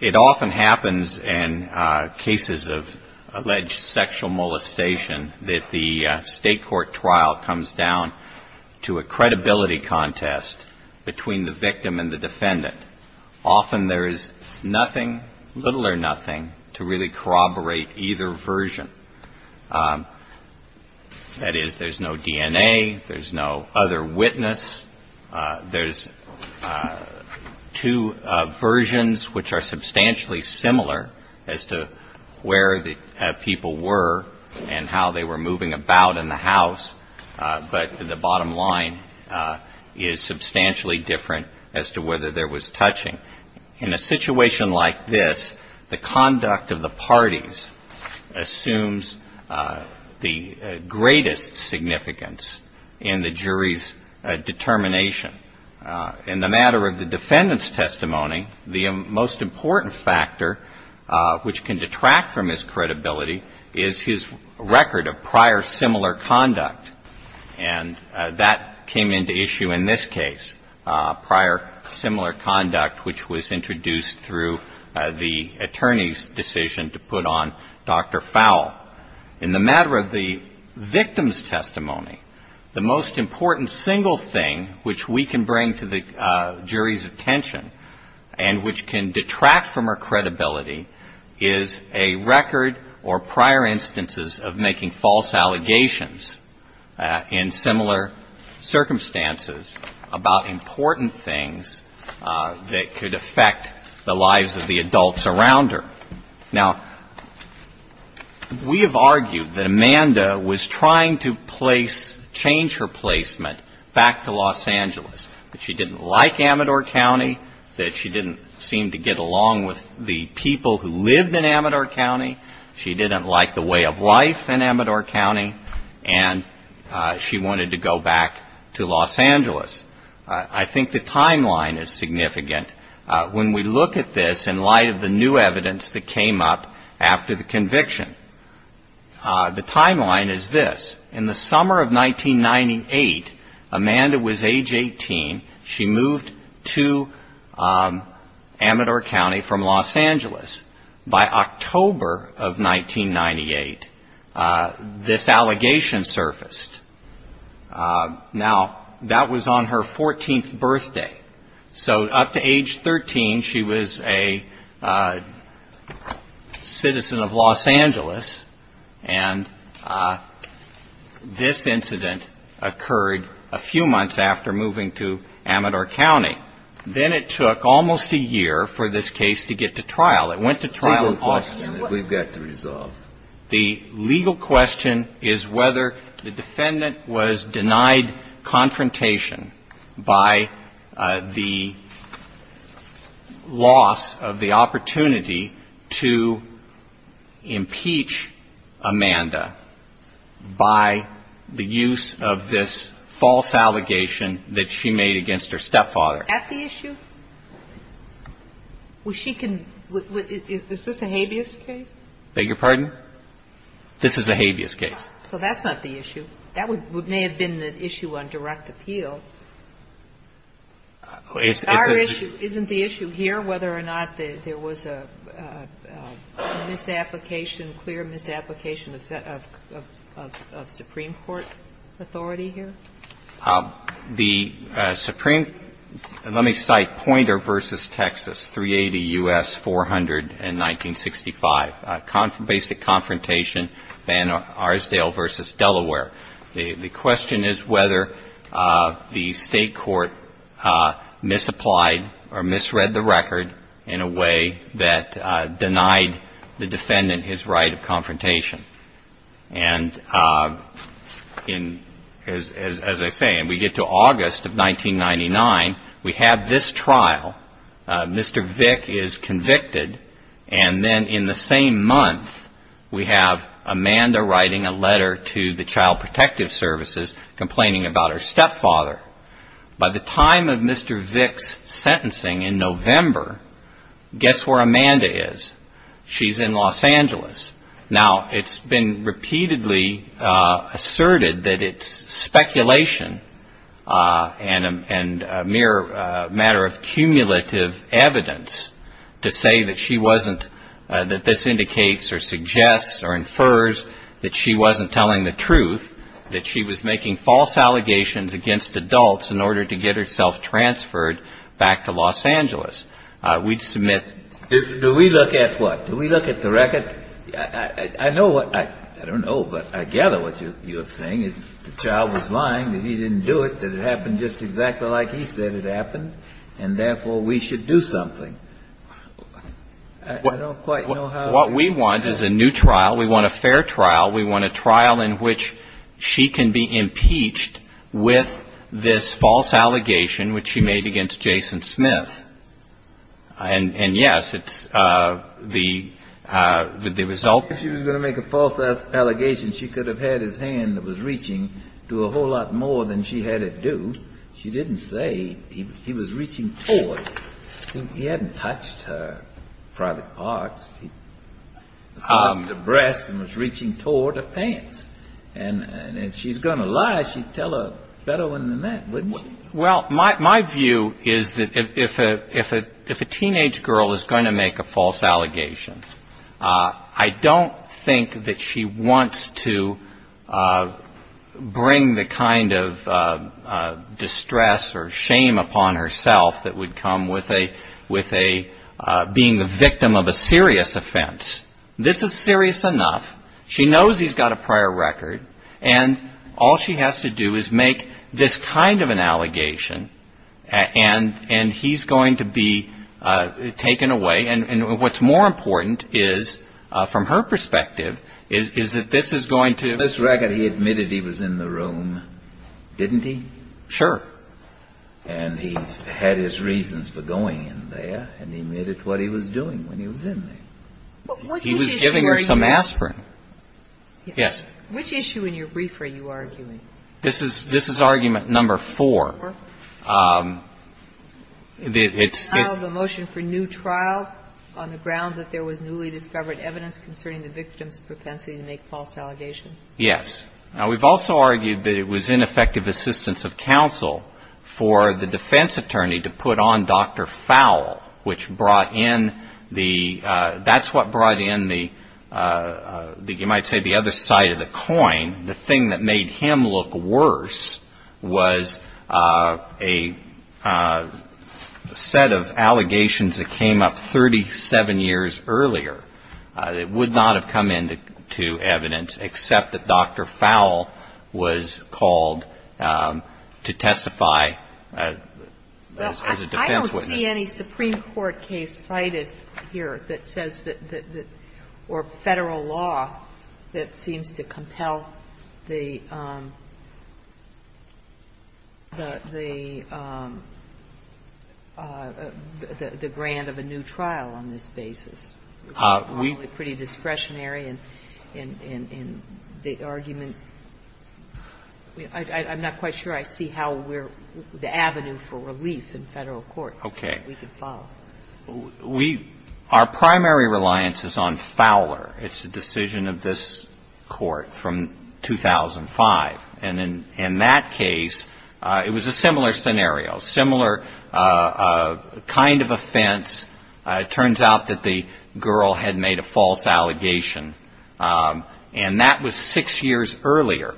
It often happens in cases of alleged sexual molestation that the state court trial comes down to a credibility contest between the victim and the defendant. Often there is nothing, little or nothing, to corroborate either version. That is, there is no DNA, there is no other witness. There are two versions which are substantially similar as to where the people were and how they were moving about in the house, but the bottom line is substantially different as to whether there was touching. In a situation like this, the conduct of the parties assumes the greatest significance in the jury's determination. In the matter of the defendant's testimony, the most important factor which can detract from his credibility is his record of prior similar conduct. And that came into issue in this case, prior similar conduct which was introduced through the attorney's decision to put on Dr. Fowle. In the matter of the victim's testimony, the most important single thing which we can bring to the jury's attention and which can detract from her credibility is a record or prior instances of making false allegations in similar circumstances about important things that could affect the lives of the adults around her. Now, we have argued that Amanda was trying to place, change her placement back to Los Angeles, that she didn't like Amador County, that she didn't seem to get along with the people who lived in Amador County, she didn't like the way of life in Amador County, and she wanted to go back to Los Angeles. I think the timeline is significant. When we look at this in light of the new evidence that came up after the conviction, the timeline is this. In the summer of 1998, Amanda was age 18. She moved to Amador County from Los Angeles. By October of 1998, this allegation surfaced. Now, that was on her 14th birthday. So up to age 13, she was a citizen of Los Angeles, and she moved to Amador County. This incident occurred a few months after moving to Amador County. Then it took almost a year for this case to get to trial. It went to trial in August. The legal question that we've got to resolve. The legal question is whether the defendant was denied confrontation by the loss of the child, by the use of this false allegation that she made against her stepfather. Is that the issue? Is this a habeas case? Beg your pardon? This is a habeas case. So that's not the issue. That may have been the issue on direct appeal. Isn't the issue here whether or not there was a misapplication, clear misapplication of Supreme Court authority here? The Supreme, let me cite Poynter v. Texas, 380 U.S. 400 in 1965, basic confrontation, Van Arsdale v. Delaware. The question is whether the state court misapplied or misread the record in a way that denied the defendant his right of confrontation. As I say, we get to August of 1999. We have this trial. Mr. Vick is convicted. And then in the same month, we have Amanda writing a letter to the Child Protective Services complaining about her stepfather. By the time of Mr. Vick's sentencing in November, guess where Amanda is? She's in Los Angeles. Now it's been repeatedly asserted that it's speculation and a mere matter of cumulative evidence to say that she wasn't, that this indicates or suggests or infers that she wasn't telling the truth, that she was making false allegations against adults in order to get herself transferred back to Los Angeles. We'd submit to the State Court. Do we look at what? Do we look at the record? I know what I don't know, but I gather what you're saying is the child was lying, that he didn't do it, that it happened just exactly like he said it happened, and therefore we should do something. I don't quite know how to answer that. What we want is a new trial. We want a fair trial. We want a trial in which she can be impeached with this false allegation which she made against Jason Smith. And yes, it's the result of the trial. If she was going to make a false allegation, she could have had his hand that was reaching to a whole lot more than she had it do. She didn't say. He was reaching towards. He hadn't touched her private parts. He was reaching towards her breasts and was reaching towards her pants. And if she's going to lie, she'd tell a better one than that, wouldn't she? Well, my view is that if a teenage girl is going to make a false allegation, I don't think that she wants to bring the kind of distress or shame upon herself that would come with being the victim of a serious offense. This is serious enough. She knows he's got a prior record, and all she has to do is make this kind of an allegation, and he's going to be taken away. And what's more important is, from her perspective, is that this is going to... This record, he admitted he was in the room, didn't he? Sure. And he had his reasons for going in there, and he admitted what he was doing when he was in there. He was giving her some aspirin. Yes. Which issue in your brief are you arguing? This is argument number four. Four? It's... The motion for new trial on the ground that there was newly discovered evidence concerning the victim's propensity to make false allegations? Yes. Now, we've also argued that it was ineffective assistance of counsel for the defense attorney to put on Dr. Fowle, which brought in the... That's what brought in the, you might say, the other side of the coin. The thing that made him look worse was a set of allegations that came up 37 years earlier that would not have come into evidence except that Dr. Fowle was called to testify as a defense witness. Well, I don't see any Supreme Court case cited here that says that, or Federal law that seems to compel the, the, the, the group to testify. any, I don't see any, I don't see any, I don't see any, I don't see any, I don't see any grant of a new trial on this basis. We... It's awfully pretty discretionary in, in, in, in the argument. I, I, I'm not quite sure I see how we're, the avenue for relief in Federal court that we could follow. Okay. We, our primary reliance is on Fowler. It's a decision of this court from 2005. And in, in that case, it was a similar scenario, similar kind of offense. It turns out that the girl had made a false allegation. And that was six years earlier.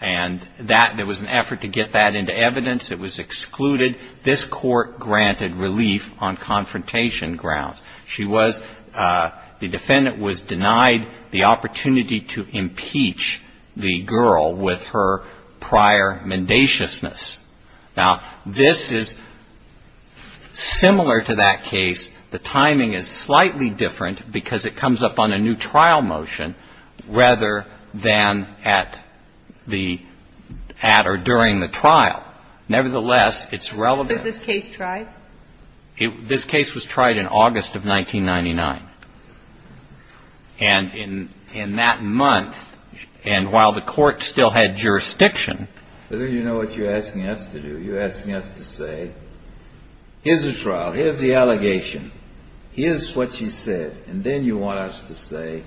And that, there was an opportunity to impeach the girl. And the defendant was denied the opportunity to impeach the girl with her prior mendaciousness. Now, this is similar to that case. The timing is slightly different because it comes up on a new trial motion rather than at the, at or during the trial. Nevertheless, it's relevant. Was this case tried? It, this case was tried in August of 1999. And in, in that month, and while the court still had jurisdiction... But don't you know what you're asking us to do? You're asking us to say, here's a trial. Here's the allegation. Here's what she said. And then you want us to say,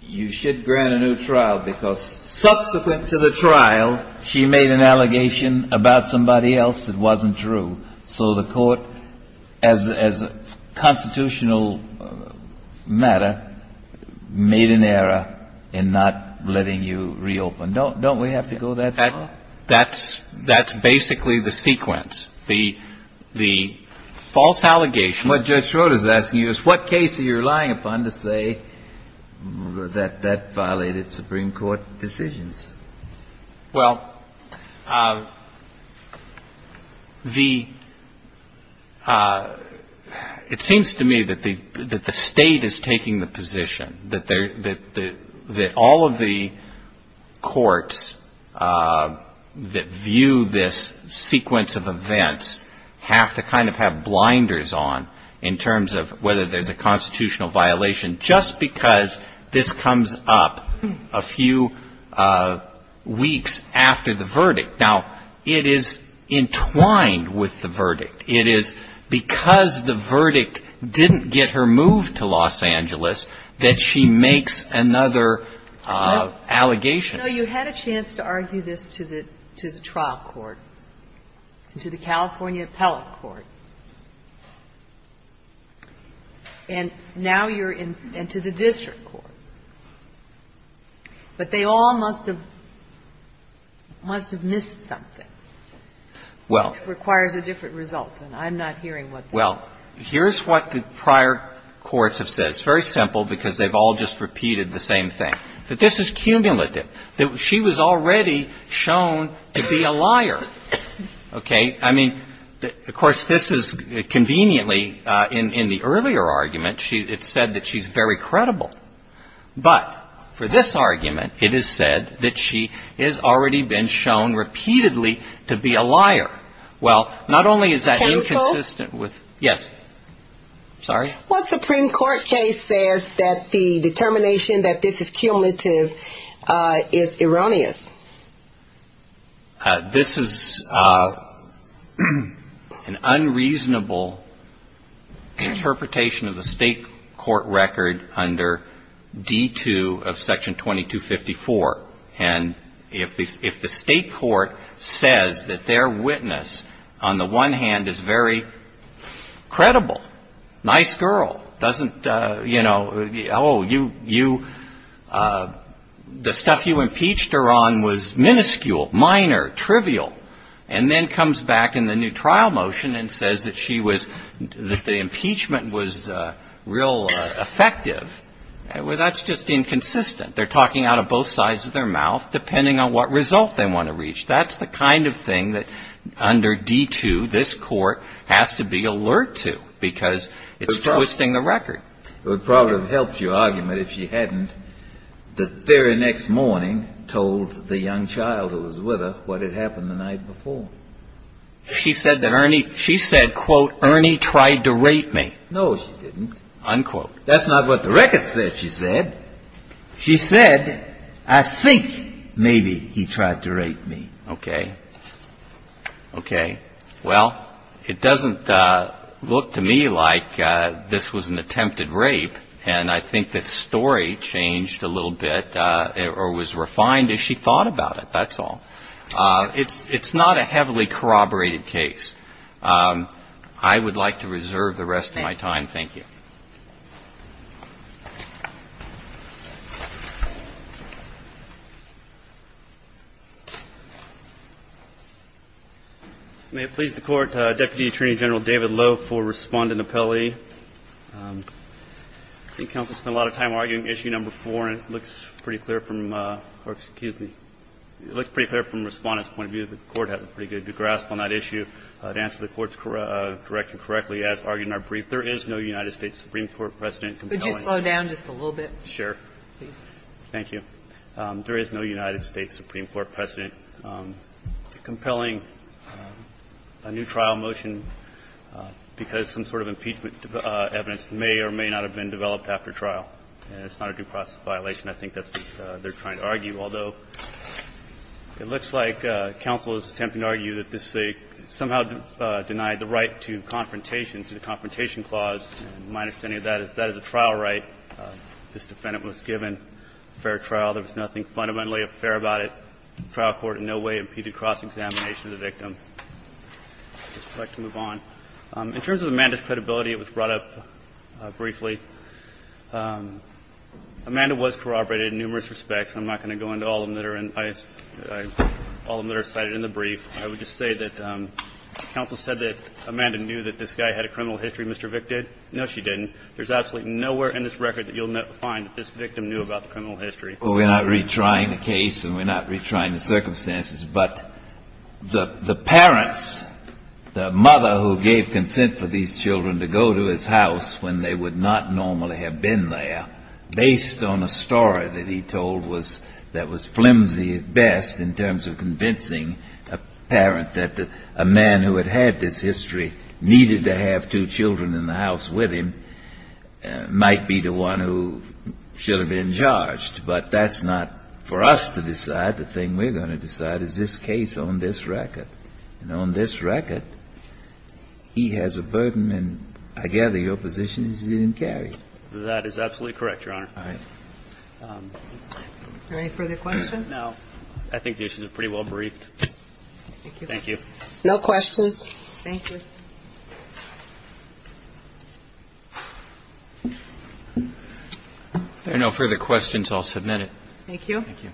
you should grant a new trial because subsequent to the trial, she made an allegation about somebody else that wasn't true. So the court, as, as a constitutional matter, made an error in not letting you reopen. Don't, don't we have to go that far? That's, that's basically the sequence. The, the false allegation... What Judge Schroeder is asking you is, what case are you relying upon to say that, that violated Supreme Court decisions? Well, the, it seems to me that the, that the State is taking the position that there, that, that all of the courts that view this sequence of events have to kind of have blinders on in terms of whether there's a constitutional violation just because this comes up a few weeks after the verdict. Now, it is entwined with the verdict. It is because the verdict didn't get her moved to Los Angeles that she makes another allegation. No, you had a chance to argue this to the, to the trial court, to the California District Court. But they all must have, must have missed something. Well... It requires a different result, and I'm not hearing what that is. Well, here's what the prior courts have said. It's very simple because they've all just repeated the same thing, that this is cumulative, that she was already shown to be a liar. Okay? I mean, of course, this is conveniently, in, in the earlier argument, she, it's said that she's very credible. But for this argument, it is said that she has already been shown repeatedly to be a liar. Well, not only is that inconsistent with... Counsel? Yes. Sorry? Well, the Supreme Court case says that the determination that this is cumulative is erroneous. This is an unreasonable interpretation of the state court record under D-2 of Section 2254. And if the, if the state court says that their witness, on the one hand, is very credible, nice girl, doesn't, you know, oh, you, you, the stuff you impeached her on was minuscule, minor, trivial, and then comes back in the new trial motion and says that she was, that the impeachment was real effective, well, that's just inconsistent. They're talking out of both sides of their mouth depending on what result they want to reach. That's the kind of thing that under D-2 this Court has to be alert to because it's twisting the record. It would probably have helped your argument if you hadn't. The very next morning told the young child who was with her what had happened the night before. She said that Ernie, she said, quote, Ernie tried to rape me. No, she didn't. Unquote. That's not what the record said, she said. She said, I think maybe he tried to rape me. Okay. Okay. Well, it doesn't look to me like this was an attempted rape, and I think the story changed a little bit or was refined as she thought about it, that's all. It's not a heavily corroborated case. I would like to reserve the rest of my time. Thank you. May it please the Court, Deputy Attorney General David Loeb for respondent I think counsel spent a lot of time arguing issue number four, and it looks pretty clear from, or excuse me, it looks pretty clear from Respondent's point of view that the Court has a pretty good grasp on that issue. To answer the Court's direction correctly, as argued in our brief, there is no United States Supreme Court president compelling Could you slow down just a little bit? Sure. Please. Thank you. There is no United States Supreme Court president compelling a new trial motion because some sort of impeachment evidence may or may not have been developed after trial. And it's not a due process violation. I think that's what they're trying to argue, although it looks like counsel is attempting to argue that this is a somehow denied the right to confrontation, to the confrontation clause. And my understanding of that is that is a trial right. This defendant was given fair trial. There was nothing fundamentally fair about it. The trial court in no way impeded cross-examination of the victim. I'd like to move on. In terms of Amanda's credibility, it was brought up briefly. Amanda was corroborated in numerous respects. I'm not going to go into all of them that are in the brief. I would just say that counsel said that Amanda knew that this guy had a criminal history, Mr. Vick did. No, she didn't. There's absolutely nowhere in this record that you'll find that this victim knew about the criminal history. Well, we're not retrying the case, and we're not retrying the circumstances. But the parents, the mother who gave consent for these children to go to his house when they would not normally have been there, based on a story that he told that was flimsy at best in terms of convincing a parent that a man who had had this history needed to have two children in the house with him, might be the one who should have been charged. But that's not for us to decide. The thing we're going to decide is this case on this record. And on this record, he has a burden, and I gather your position is he didn't carry it. That is absolutely correct, Your Honor. All right. Are there any further questions? No. I think this is pretty well briefed. Thank you. Thank you. No questions. Thank you. If there are no further questions, I'll submit it. Thank you. Thank you.